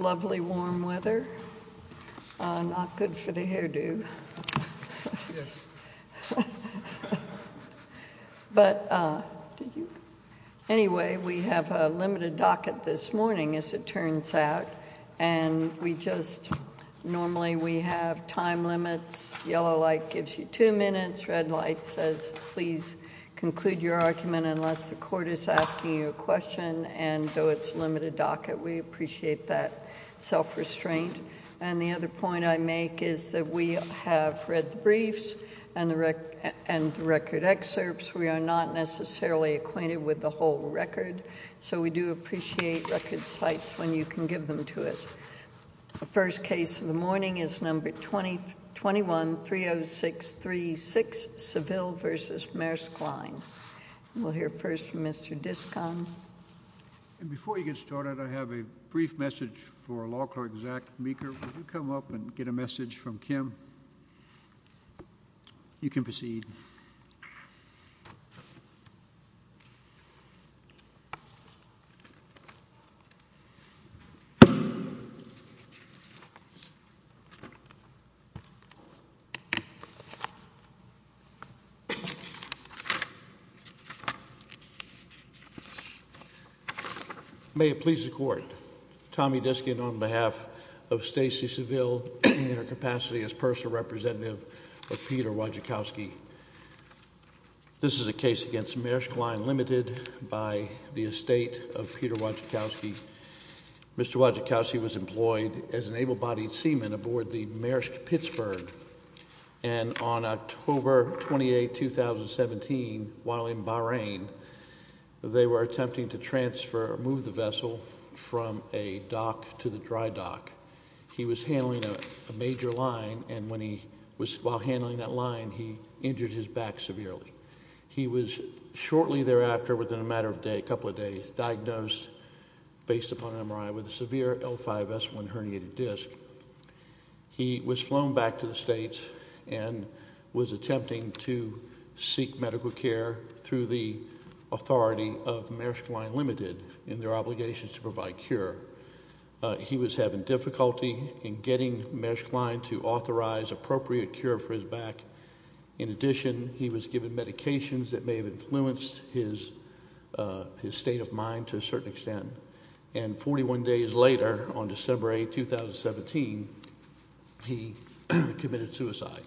Lovely warm weather, not good for the hairdo, but anyway we have a limited docket this morning as it turns out and we just normally we have time limits, yellow light gives you two minutes, red light says please conclude your argument unless the court is asking you a question and though it's limited docket we appreciate that self-restraint and the other point I make is that we have read the briefs and the record excerpts we are not necessarily acquainted with the whole record so we do appreciate record sites when you can give them to us. The first case of the morning is number 2021-30636 Seville v. Maersk Line. We'll hear first from Mr. Diskon. And before you get started I have a brief message for law clerk Zach Meeker. Would you come up and get a message from Kim? You can proceed. May it please the court, Tommy Diskon on behalf of Stacy Seville in our capacity as personal representative of Peter Wojcicki. This is a case against Maersk Line Limited by the estate of Peter Wojcicki. Mr. Wojcicki was an able-bodied seaman aboard the Maersk Pittsburgh and on October 28, 2017 while in Bahrain they were attempting to transfer or move the vessel from a dock to the dry dock. He was handling a major line and when he was while handling that line he injured his back severely. He was shortly thereafter within a matter of a couple of days diagnosed based upon MRI with a severe L5S1 disc. He was flown back to the states and was attempting to seek medical care through the authority of Maersk Line Limited in their obligations to provide cure. He was having difficulty in getting Maersk Line to authorize appropriate cure for his back. In addition, he was given medications that may have influenced his state of mind to a certain extent and 41 days later on December 8, 2017 he committed suicide.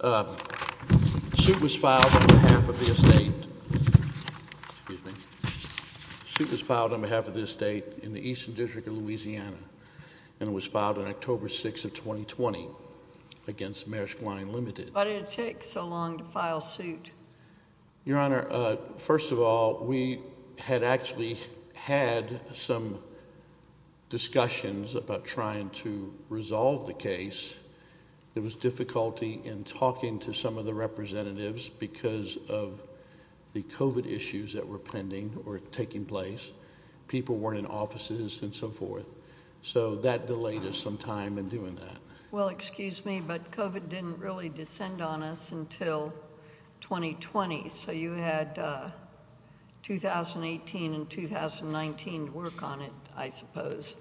The suit was filed on behalf of the estate in the Eastern District of Louisiana and it was filed on October 6, 2020 against Maersk Line Limited. Why did it take so long to file suit? Your Honor, first of all we had actually had some discussions about trying to resolve the case. There was difficulty in talking to some of the representatives because of the COVID issues that were pending or taking place. People weren't in offices and so forth so that delayed us some time in doing that. Well excuse me but COVID didn't really descend on us until 2020. So you had 2018 and 2019 to work on it I suppose.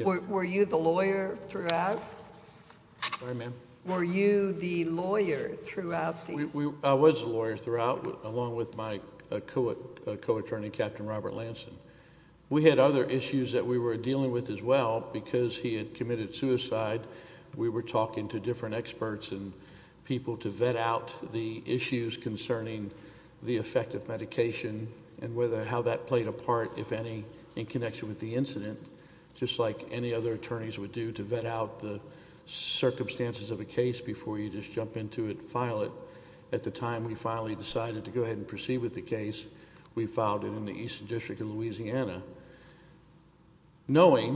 Were you the lawyer throughout? Sorry ma'am. Were you the lawyer throughout? I was the lawyer throughout along with my co-attorney Captain Robert Lanson. We had other issues that we were talking to different experts and people to vet out the issues concerning the effect of medication and whether how that played a part if any in connection with the incident just like any other attorneys would do to vet out the circumstances of a case before you just jump into it and file it. At the time we finally decided to go ahead and proceed with the case. We filed it in the Eastern District of Louisiana knowing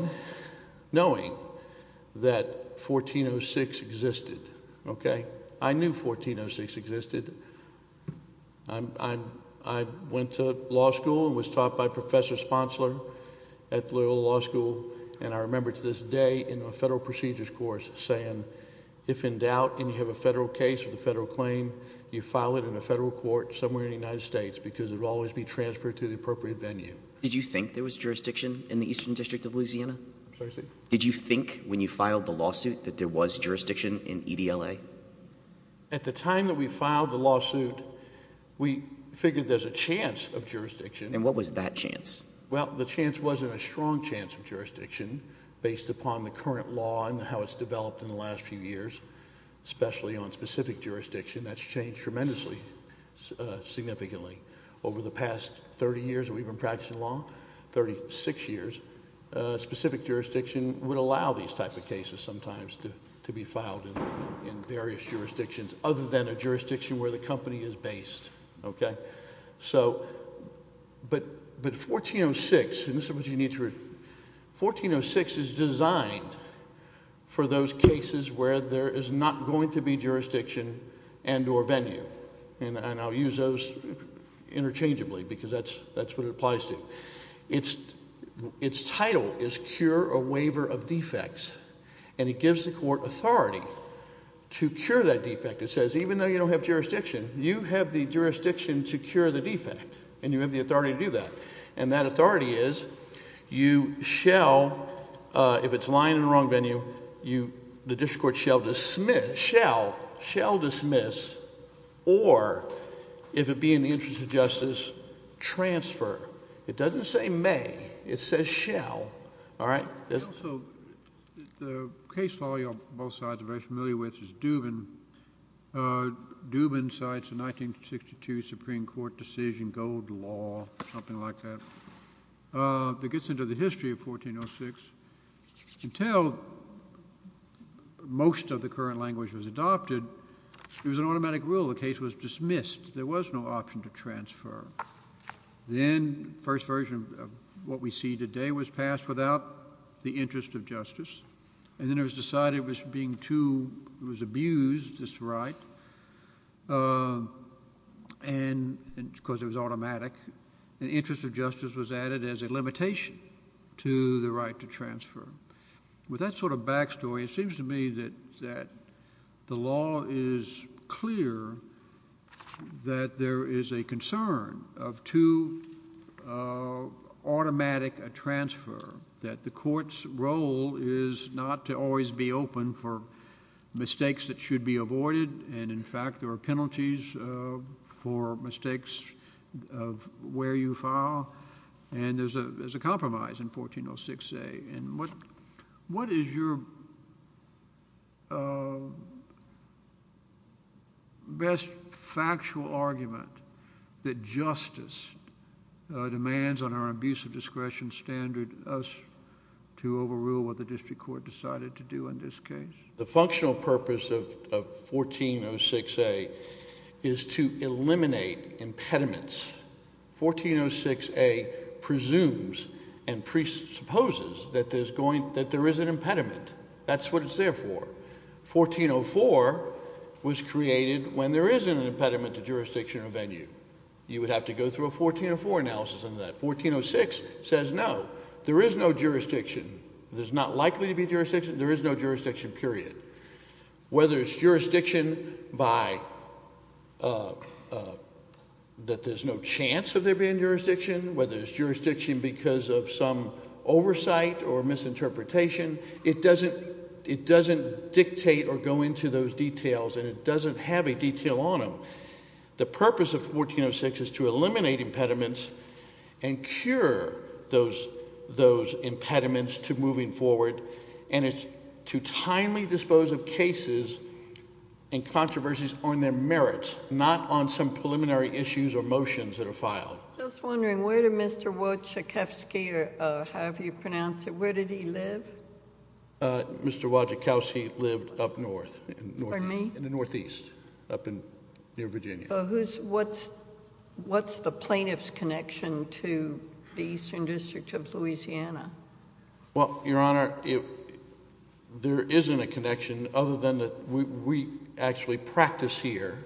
that 1406 existed. I knew 1406 existed. I went to law school and was taught by Professor Sponsler at Loyola Law School and I remember to this day in a federal procedures course saying if in doubt and you have a federal case with a federal claim you file it in a federal court somewhere in the United States because it will always be transferred to the appropriate venue. Did you think there was jurisdiction in the Eastern District of Louisiana? Did you think when you filed the lawsuit that there was jurisdiction in EDLA? At the time that we filed the lawsuit we figured there's a chance of jurisdiction. And what was that chance? Well the chance wasn't a strong chance of jurisdiction based upon the current law and how it's developed in the last few years especially on specific jurisdiction that's changed tremendously significantly over the past 30 years we've been practicing law 36 years specific jurisdiction would allow these type of cases sometimes to to be filed in various jurisdictions other than a jurisdiction where the company is based. Okay so but but 1406 and this is what you need to 1406 is designed for those cases where there is not going to be jurisdiction and or venue and I'll use those interchangeably because that's that's what it applies to it's its title is cure a waiver of defects and it gives the court authority to cure that defect it says even though you don't have jurisdiction you have the jurisdiction to cure the defect and you have the authority to do that and that authority is you shall if it's lying in the wrong venue you the district court shall dismiss shall shall dismiss or if it be in the interest of justice transfer it doesn't say may it says shall all right. Also the case law you're both sides are very familiar with is Dubin. Dubin cites a 1962 Supreme Court decision gold law something like that that gets into the history of 1406 until most of the current language was adopted it was an automatic rule the case was dismissed there was no option to transfer then first version of what we see today was passed without the interest of justice and then it was being too it was abused this right and because it was automatic the interest of justice was added as a limitation to the right to transfer. With that sort of backstory it seems to me that that the law is clear that there is a concern of too automatic a transfer that the court's role is not to always be open for mistakes that should be avoided and in fact there are penalties for mistakes of where you file and there's a there's a compromise in 1406a and what what is your best factual argument that justice demands on our abuse of discretion standard us to overrule what the district court decided to do in this case? The functional purpose of 1406a is to eliminate impediments. 1406a presumes and presupposes that there's going that there is an impediment that's what it's there for. 1404 was created when there isn't an impediment to jurisdiction or venue you would have to go through a 1404 analysis into that. 1406 says no there is no jurisdiction there's not likely to be jurisdiction there is no jurisdiction period whether it's jurisdiction by that there's no chance of there being jurisdiction whether it's jurisdiction because of some oversight or misinterpretation it doesn't it doesn't dictate or go into those details and it doesn't have a detail on them. The purpose of 1406 is to eliminate impediments and cure those those impediments to moving forward and it's to timely dispose of cases and controversies on their merits not on some preliminary issues or motions that are filed. Just wondering where did Mr. Wojciechowski or however you pronounce it where did he live? Mr. Wojciechowski lived up north in the northeast up in near Virginia. So who's what's what's the plaintiff's connection to the eastern district of Louisiana? Well your honor there isn't a connection other than that we actually practice here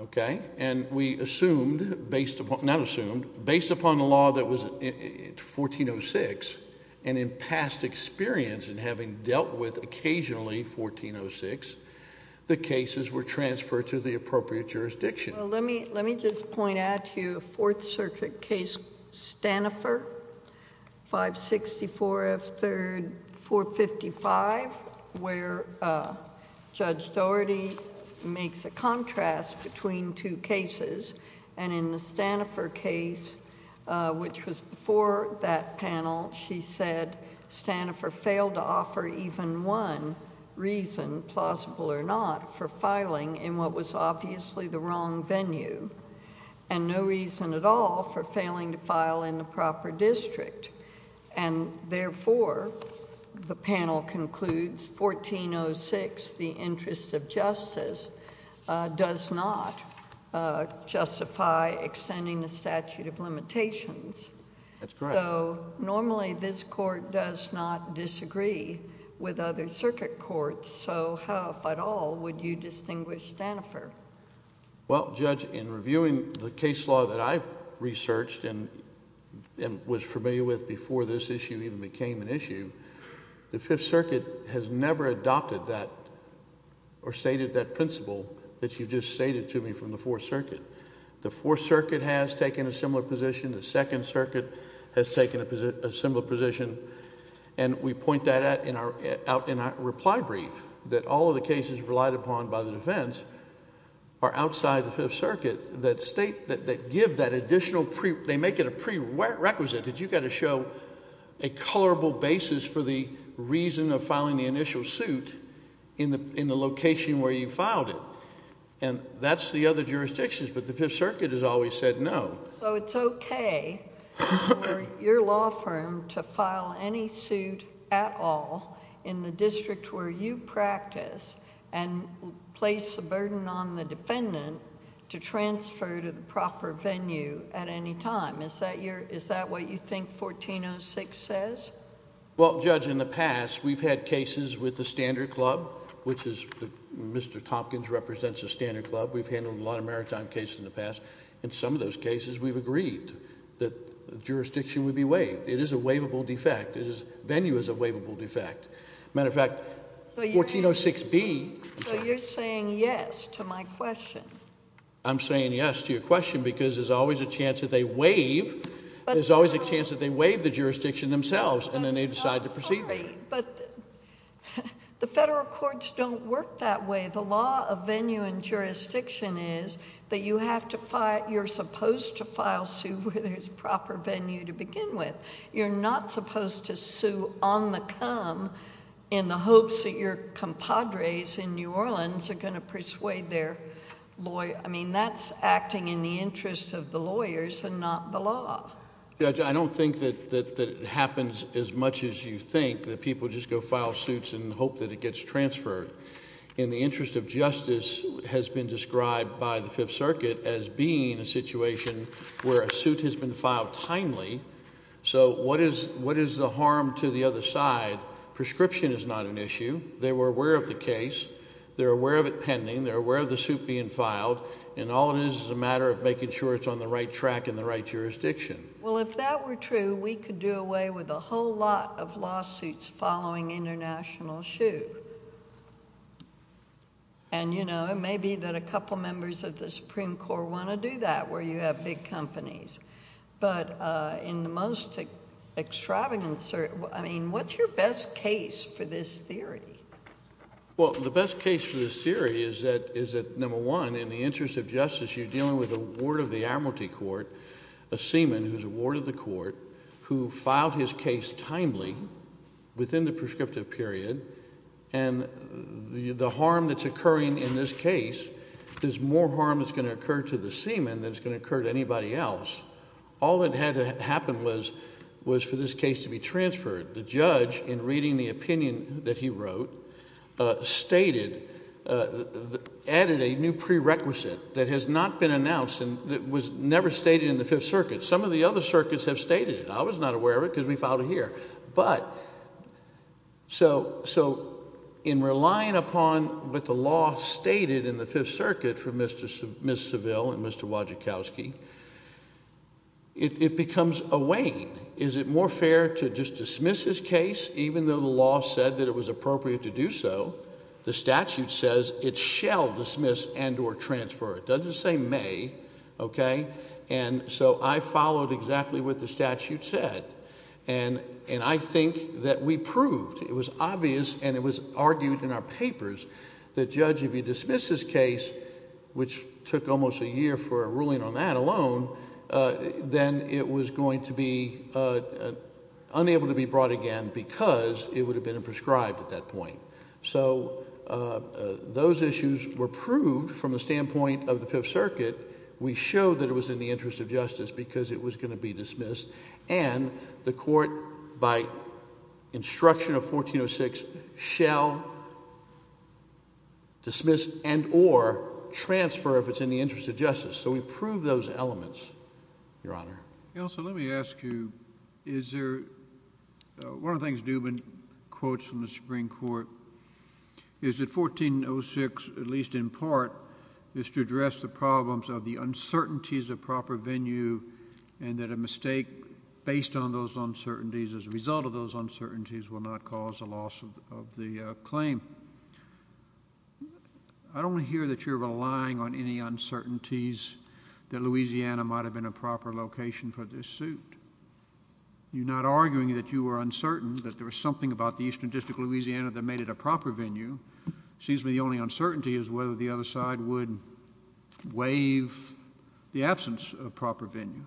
okay and we assumed based upon not assumed based upon the law that was in 1406 and in past experience and having dealt with occasionally 1406 the cases were transferred to the appropriate jurisdiction. Well let me let me just point out to you a fourth case Stanifor 564 of third 455 where Judge Dougherty makes a contrast between two cases and in the Stanifor case which was before that panel she said Stanifor failed to offer even one reason plausible or not for filing in what was obviously the wrong venue and no reason at all for failing to file in the proper district and therefore the panel concludes 1406 the interest of justice does not justify extending the statute of limitations. That's correct. So normally this does not disagree with other circuit courts so how if at all would you distinguish Stanifor? Well judge in reviewing the case law that I've researched and was familiar with before this issue even became an issue the fifth circuit has never adopted that or stated that principle that you just stated to me from the fourth circuit. The fourth circuit has taken a similar position the second circuit has taken a similar position and we point that out in our reply brief that all of the cases relied upon by the defense are outside the fifth circuit that state that give that additional they make it a prerequisite that you've got to show a colorable basis for the reason of filing the initial suit in the location where you filed it and that's the other jurisdictions but the fifth circuit has always said no. So it's okay for your law firm to file any suit at all in the district where you practice and place a burden on the defendant to transfer to the proper venue at any time is that your is that what you think 1406 says? Well judge in the past we've had cases with the standard club which is Mr. Tompkins represents a standard club we've handled a lot of maritime cases in the past in some of those cases we've agreed that the jurisdiction would be waived it is a waivable defect it is venue is a waivable defect matter of fact so 1406b. So you're saying yes to my question? I'm saying yes to your question because there's always a chance that they waive there's always a chance that they waive the jurisdiction themselves and then they decide to proceed but the federal courts don't work that way the law of venue and jurisdiction is that you have to fight you're supposed to file sue where there's proper venue to begin with you're not supposed to sue on the come in the hopes that your compadres in New Orleans are going to persuade their lawyer I mean that's acting in the interest of the lawyers and not the law. I don't think that that happens as much as you think that people just go file suits and hope that it gets transferred in the interest of justice has been described by the fifth circuit as being a situation where a suit has been filed timely so what is what is the harm to the other side prescription is not an issue they were aware of the case they're aware of it pending they're aware of the suit being filed and all it is is a matter of making sure it's on the right track in the right jurisdiction. Well if that were true we could do away with a whole lot of lawsuits following international shoot and you know it may be that a couple members of the supreme court want to do that where you have big companies but uh in the most extravagant I mean what's your best case for this theory? Well the best case for this theory is that is number one in the interest of justice you're dealing with a ward of the amorty court a seaman who's a ward of the court who filed his case timely within the prescriptive period and the the harm that's occurring in this case there's more harm that's going to occur to the seaman than it's going to occur to anybody else all that had to happen was was for this case to be transferred the judge in reading the opinion that he wrote uh stated uh added a new prerequisite that has not been announced and that was never stated in the fifth circuit some of the other circuits have stated it I was not aware of it because we filed it here but so so in relying upon what the law stated in the fifth circuit for Mr. Miss Seville and Mr. Wojcikowski it becomes a wane is it more fair to just dismiss his case even though the law said that it was appropriate to do so the statute says it shall dismiss and or transfer it doesn't say may okay and so I followed exactly what the statute said and and I think that we proved it was obvious and it was argued in our papers that judge if you dismiss this case which took almost a year for a ruling on that alone then it was going to be unable to be brought again because it would have been prescribed at that point so those issues were proved from the standpoint of the fifth circuit we showed that it was in the interest of justice because it was going to be dismissed and the court by instruction of 1406 shall dismiss and or transfer if it's in the interest of justice so we prove those elements your honor you know so let me ask you is there one of the things dubin quotes from the supreme court is that 1406 at least in part is to address the problems of the uncertainties of proper venue and that a mistake based on those uncertainties as a result of those uncertainties will not cause the loss of the claim I don't hear that you're relying on any uncertainties that louisiana might have been a proper location for this suit you're not arguing that you were uncertain that there was something about the eastern district louisiana that made it a proper venue it seems to me the only uncertainty is whether the other side would waive the absence of proper venue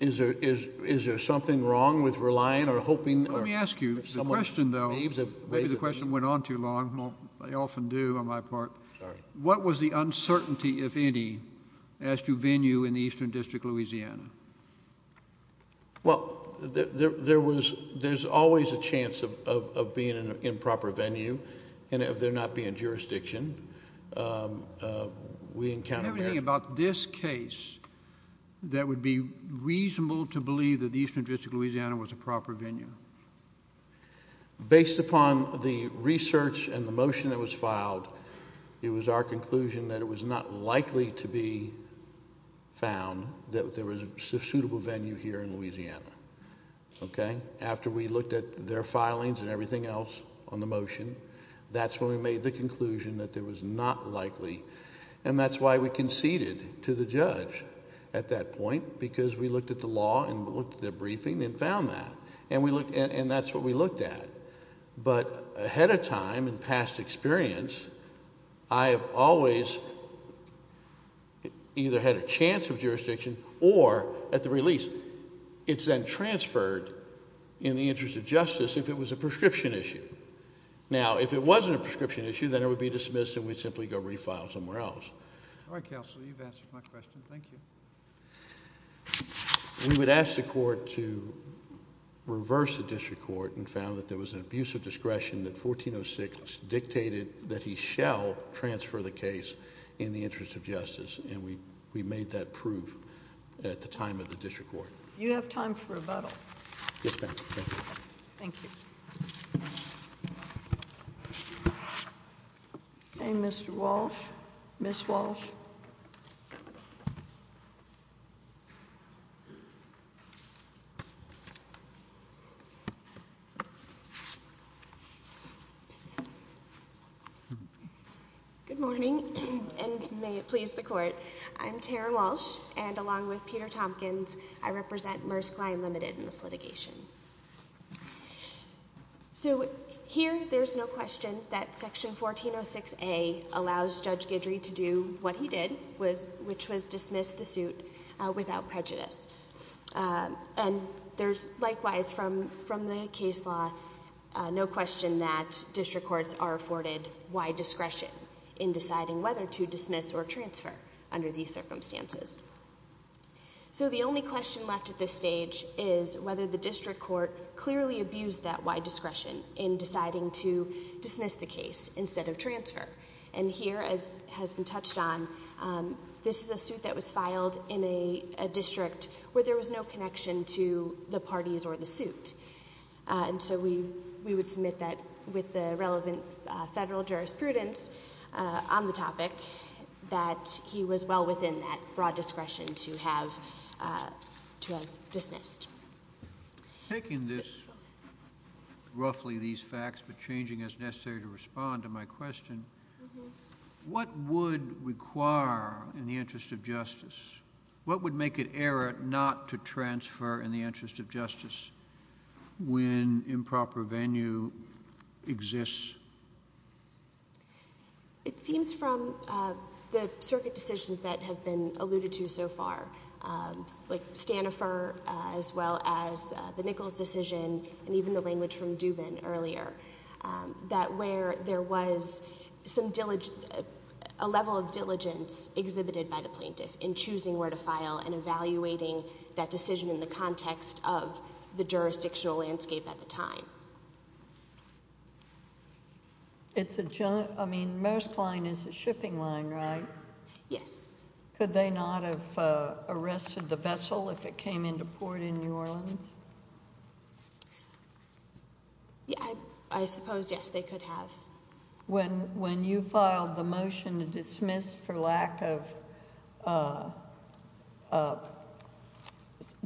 is there is is there something wrong with relying or hoping let me ask you the question though maybe the question went on too they often do on my part sorry what was the uncertainty if any as to venue in the eastern district louisiana well there there was there's always a chance of of being an improper venue and if they're not being jurisdiction um we encountered everything about this case that would be reasonable to believe that the eastern district louisiana was a proper venue um based upon the research and the motion that was filed it was our conclusion that it was not likely to be found that there was a suitable venue here in louisiana okay after we looked at their filings and everything else on the motion that's when we made the conclusion that there was not likely and that's why we conceded to the judge at that point because we looked at the law and looked at the briefing and found that and we looked and that's what we looked at but ahead of time and past experience i have always either had a chance of jurisdiction or at the release it's then transferred in the interest of justice if it was a prescription issue now if it wasn't a prescription issue then it would be dismissed and we'd simply go refile somewhere else all right counsel you've answered my question thank you we would ask the court to reverse the district court and found that there was an abuse of discretion that 1406 dictated that he shall transfer the case in the interest of justice and we we made that proof at the time of the district court you have time for rebuttal yes thank you thank you okay hey mr walsh miss walsh good morning and may it please the court i'm tara walsh and along with peter thompkins i represent merskline limited in this litigation so here there's no question that section 1406a allows judge gidrey to do what he did was which was dismiss the suit without prejudice and there's likewise from from the case law no question that district courts are afforded wide discretion in deciding whether to dismiss or transfer under these circumstances so the only question left at this stage is whether the district court clearly abused that wide discretion in deciding to dismiss the case instead of transfer and here as has been touched on this is a suit that was filed in a district where there was no connection to the parties or the suit and so we we would submit that with the relevant federal jurisprudence on the topic that he was well within that broad discretion to have uh to have dismissed taking this roughly these facts but changing as necessary to respond to my question what would require in the interest of justice what would make it error not to transfer in the case it seems from uh the circuit decisions that have been alluded to so far um like stanifer as well as the nichols decision and even the language from dubin earlier um that where there was some diligent a level of diligence exhibited by the plaintiff in choosing where to file and evaluating that decision in the context of the jurisdictional landscape at the time it's a joint i mean most line is a shipping line right yes could they not have arrested the vessel if it came into port in new orleans yeah i suppose yes they could have when when you filed the motion to dismiss for lack of uh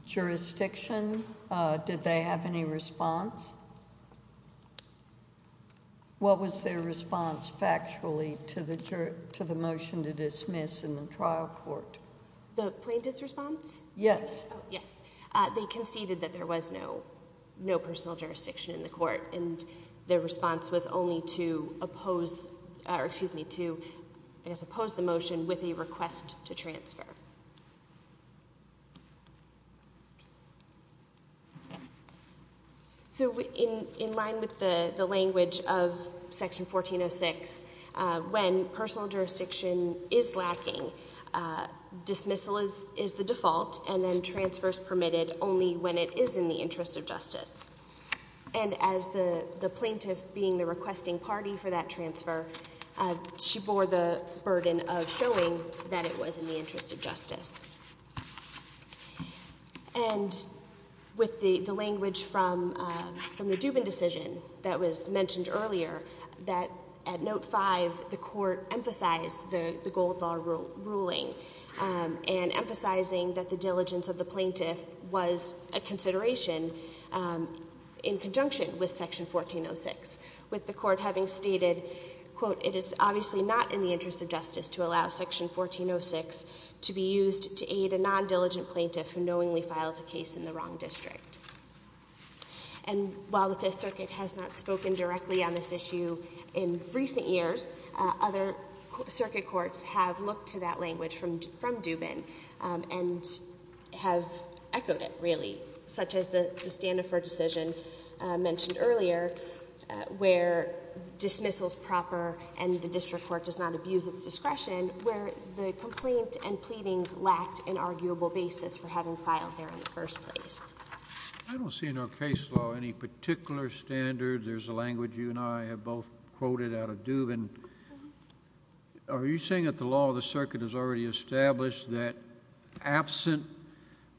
jurisdiction uh did they have any response yes what was their response factually to the to the motion to dismiss in the trial court the plaintiff's response yes oh yes uh they conceded that there was no no personal jurisdiction in the court and their response was only to oppose or excuse me to i guess oppose the motion with a request to transfer so in in line with the the language of section 1406 uh when personal jurisdiction is lacking uh dismissal is is the default and then transfers permitted only when it is in the interest of justice and as the the plaintiff being the requesting party for that transfer uh she bore the burden of showing that it was in the interest of justice and with the the language from uh from the dubin decision that was mentioned earlier that at note five the court emphasized the the gold law ruling um and emphasizing that the diligence of the plaintiff was a consideration um in conjunction with section 1406 with the court having stated quote it is obviously not in the interest of justice to allow section 1406 to be used to aid a non-diligent plaintiff who knowingly files a case in the wrong district and while the fifth circuit has not spoken directly on this issue in recent years other circuit courts have looked to that language from from dubin and have echoed it really such as the stand for decision mentioned earlier where dismissal is proper and the district court does not abuse its discretion where the complaint and pleadings lacked an arguable basis for having filed there in the first place i don't see no case law any particular standard there's a language you and i have both quoted out of dubin are you saying that the law of the circuit has already established that absent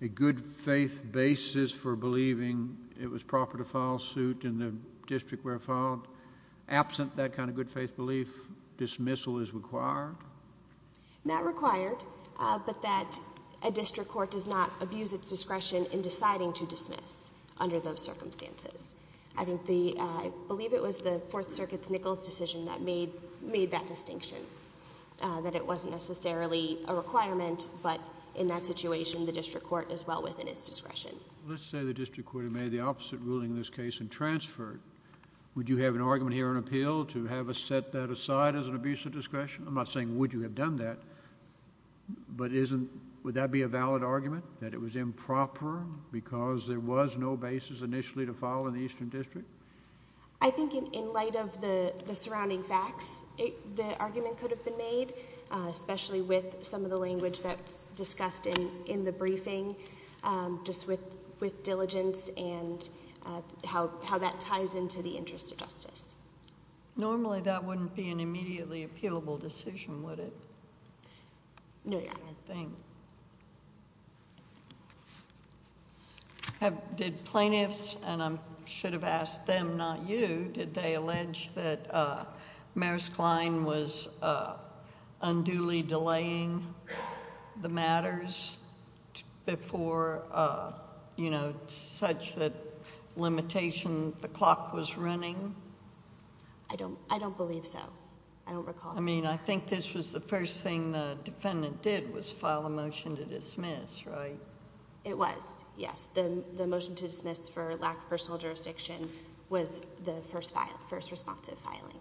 a good faith basis for believing it was proper to file suit in the district where filed absent that kind of good faith belief dismissal is required not required uh but that a district court does not abuse its discretion in deciding to dismiss under those circumstances i think the i believe it was the fourth circuit's nichols decision that made that distinction that it wasn't necessarily a requirement but in that situation the district court is well within its discretion let's say the district court made the opposite ruling in this case and transferred would you have an argument here an appeal to have a set that aside as an abuse of discretion i'm not saying would you have done that but isn't would that be a valid argument that it was improper because there was no basis initially to file in the eastern district i think in in light of the the surrounding facts the argument could have been made especially with some of the language that's discussed in in the briefing just with with diligence and how how that ties into the interest of justice normally that wouldn't be an immediately appealable decision would it no yeah i think have did plaintiffs and i should have asked them not you did they allege that uh maris cline was uh unduly delaying the matters before uh you know such that limitation the clock was running i don't i don't believe so i don't recall i mean i think this was the first thing the defendant did was file a motion to dismiss right it was yes then the motion to dismiss for lack of personal jurisdiction was the first file first responsive filing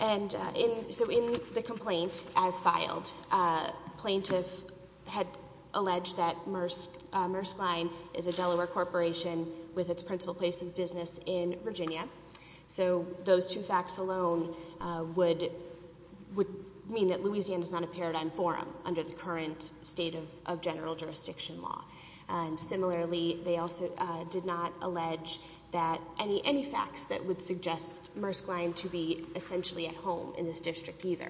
and in so in the complaint as filed uh plaintiff had alleged that murce murce cline is a delaware corporation with its principal place in business in virginia so those two facts alone uh would would mean that louisiana is not a paradigm forum under the current state of general jurisdiction law and similarly they also did not allege that any any facts that would suggest murce cline to be essentially at home in this district either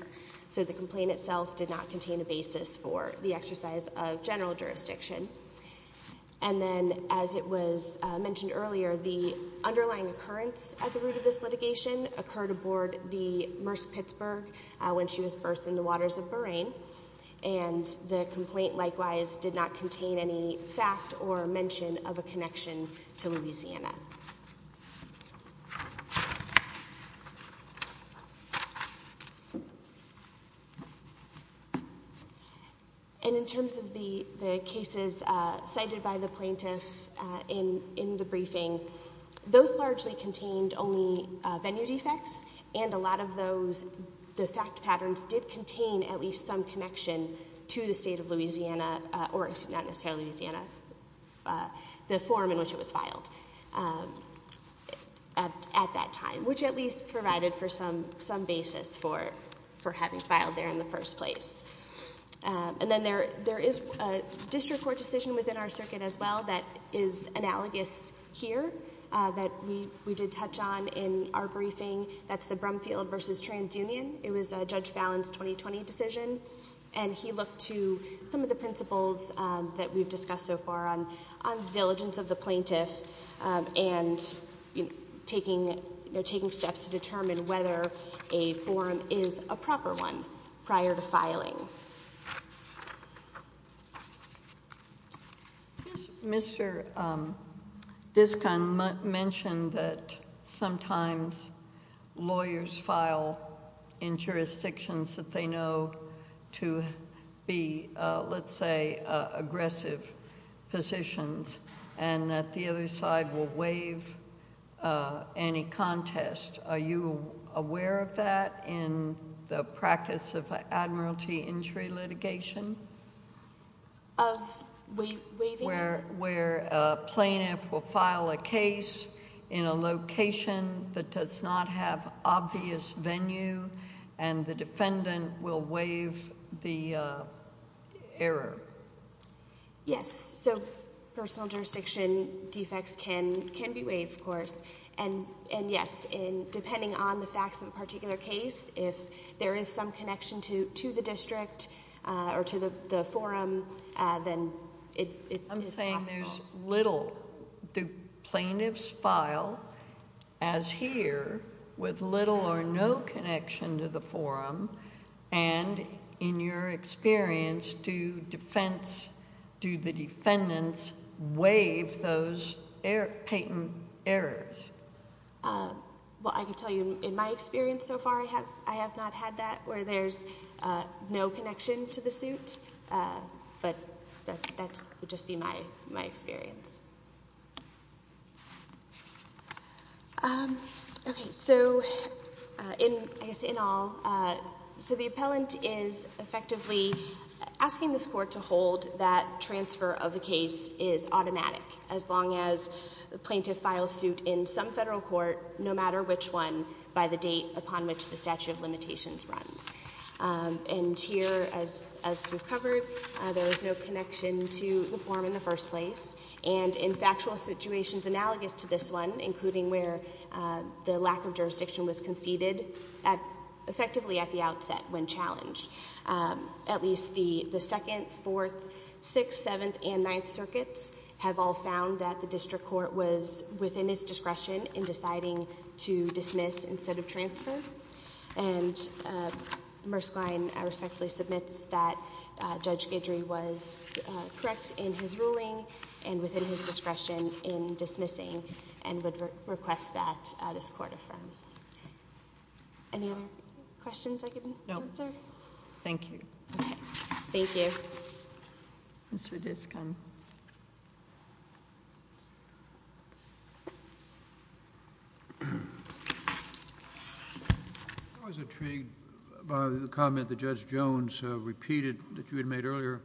so the complaint itself did not contain a basis for the exercise of general jurisdiction and then as it was uh mentioned earlier the underlying occurrence at the root of this litigation occurred aboard the murce pittsburgh when she was first in the waters of boraine and the complaint likewise did not contain any fact or mention of a connection to louisiana so and in terms of the the cases uh cited by the plaintiff uh in in the briefing those largely contained only uh venue defects and a lot of those the fact patterns did contain at least some connection to the state of louisiana or not necessarily louisiana uh the form in which it was filed at that time which at least provided for some some basis for for having filed there in the first place and then there there is a district court decision within our circuit as well that is analogous here uh that we we did touch on in our briefing that's the brumfield versus transunion it was a judge fallon's 2020 decision and he looked to some of the principles that we've discussed so far on on the diligence of the plaintiff and you know taking you know taking steps to determine whether a forum is a proper one prior to filing mr um discon mentioned that sometimes lawyers file in jurisdictions that they know to be uh let's say uh aggressive positions and that the other side will waive uh any contest are you aware of that in the practice of admiralty injury litigation of we waiting where where a plaintiff will file a case in a location that does not have obvious venue and the defendant will waive the uh error yes so personal jurisdiction defects can can be waived of course and and yes in depending on the facts of a particular case if there is some connection to to the district uh or to the the forum uh then it i'm saying there's little the connection to the forum and in your experience to defense do the defendants waive those air patent errors uh well i can tell you in my experience so far i have i have not had that where there's uh no connection to the suit uh but that that would just be my my experience um okay so uh in i guess in all uh so the appellant is effectively asking this court to hold that transfer of the case is automatic as long as the plaintiff files suit in some federal court no matter which one by the date upon which the statute of limitations runs and here as as we've covered there is no connection to the form in the first place and in factual situations analogous to this one including where the lack of jurisdiction was conceded at effectively at the outset when challenged at least the the second fourth sixth seventh and ninth circuits have all found that the district court was within its discretion in deciding to dismiss instead of transfer and uh murskline i respectfully submit that judge gidry was correct in his ruling and within his discretion in dismissing and would request that this court affirm any other questions i can answer thank you okay thank you mr discom i was intrigued by the comment that judge jones uh repeated that you had made earlier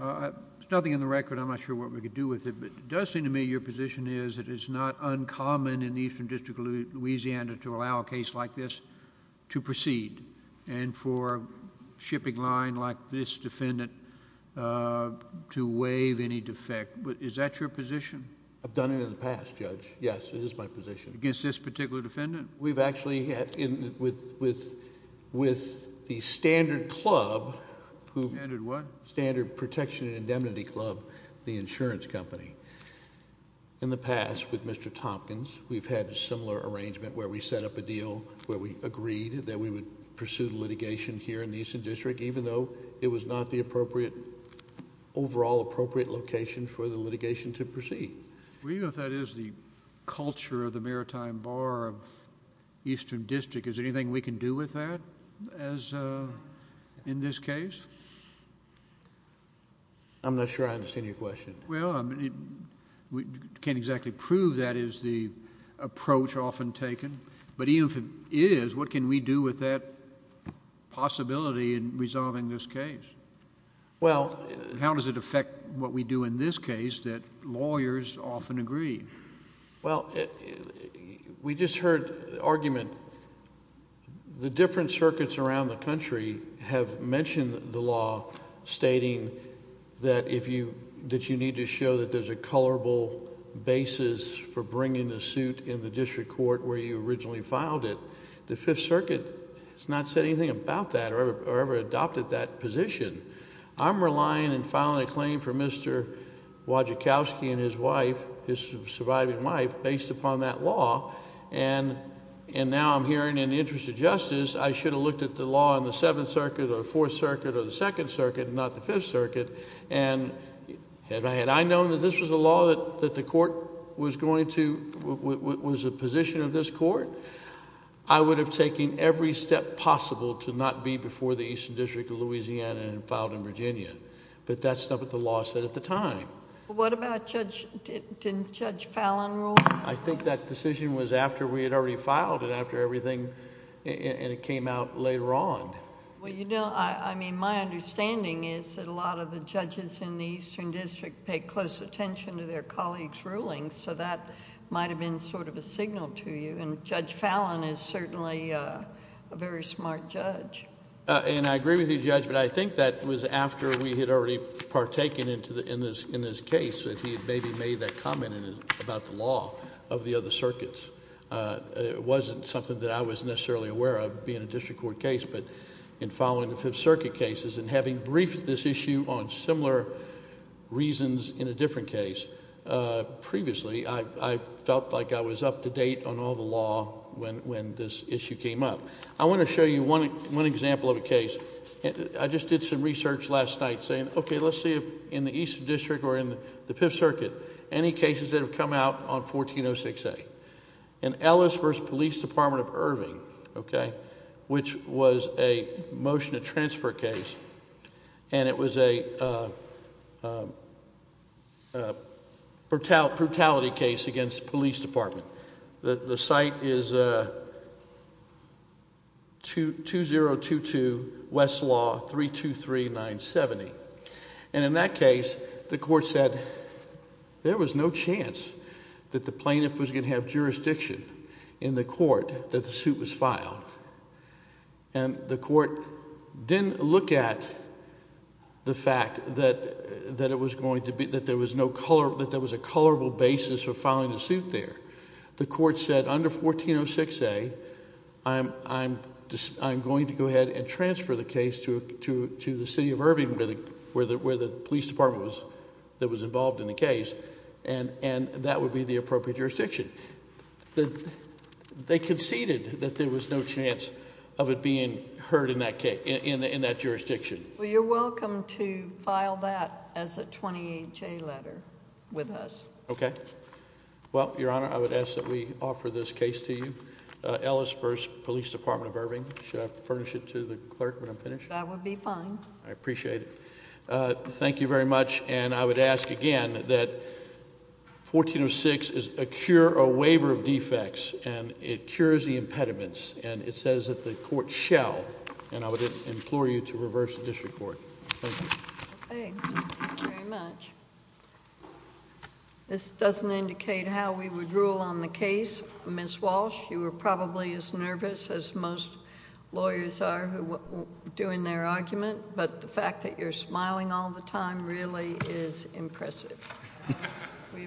uh there's nothing in the record i'm not sure what we could do with it but it does seem to me your position is it is not uncommon in the eastern district of louisiana to allow a case like this to proceed and for a shipping line like this defendant uh to waive any defect but is that your position i've done it in the past judge yes it is my position against this particular defendant we've actually had in with with with the standard club standard what standard protection and indemnity club the insurance company in the past with mr thompkins we've had a similar arrangement where we set up a deal where we agreed that we would pursue the litigation here in the eastern district even though it was not the appropriate overall appropriate location for the litigation to proceed we know that is the culture of the maritime bar of eastern district is anything we can do with that as uh in this case i'm not sure i understand your question well i but even if it is what can we do with that possibility in resolving this case well how does it affect what we do in this case that lawyers often agree well we just heard the argument the different circuits around the country have mentioned the law stating that if you that filed it the fifth circuit has not said anything about that or ever adopted that position i'm relying and filing a claim for mr wadjikowski and his wife his surviving wife based upon that law and and now i'm hearing in the interest of justice i should have looked at the law on the seventh circuit or fourth circuit or the second circuit not the fifth circuit and have i had i known that this was a law that that the court was going to was a position of this court i would have taken every step possible to not be before the eastern district of louisiana and filed in virginia but that's not what the law said at the time what about judge didn't judge fallon rule i think that decision was after we had already filed it after everything and it came out later on well you know i mean my understanding is that a lot of the judges in the eastern district pay close attention to their colleagues rulings so that might have been sort of a signal to you and judge fallon is certainly a very smart judge and i agree with you judge but i think that was after we had already partaken into the in this in this case that he had maybe made that comment about the law of the other circuits uh it wasn't something that i was necessarily aware of being a district court case but in following the fifth circuit cases and having briefed this issue on similar reasons in a different case uh previously i i felt like i was up to date on all the law when when this issue came up i want to show you one one example of a case i just did some research last night saying okay let's see if in the eastern district or in the fifth circuit any cases that have come out on a motion to transfer case and it was a brutal brutality case against the police department the the site is uh to 2022 west law 323970 and in that case the court said there was no chance that the plaintiff was going to have jurisdiction in the court that the suit was filed and the court didn't look at the fact that that it was going to be that there was no color that there was a colorable basis for filing a suit there the court said under 1406a i'm i'm just i'm going to go ahead and transfer the case to to to the city of irving where the where the police department was that was involved in the case and and that would be the appropriate jurisdiction the they conceded that there was no chance of it being heard in that case in in that jurisdiction well you're welcome to file that as a 28 j letter with us okay well your honor i would ask that we offer this case to you uh ellis first police department of irving should i furnish it to the clerk when i'm finished that would be fine i appreciate it uh thank you very much and i would ask again that 1406 is a cure a waiver of defects and it cures the impediments and it says that the court shall and i would implore you to reverse the district court thank you thank you very much this doesn't indicate how we would rule on the case miss walsh you were probably as nervous as most lawyers are who doing their argument but the fact that you're smiling all the time really is impressive we appreciate it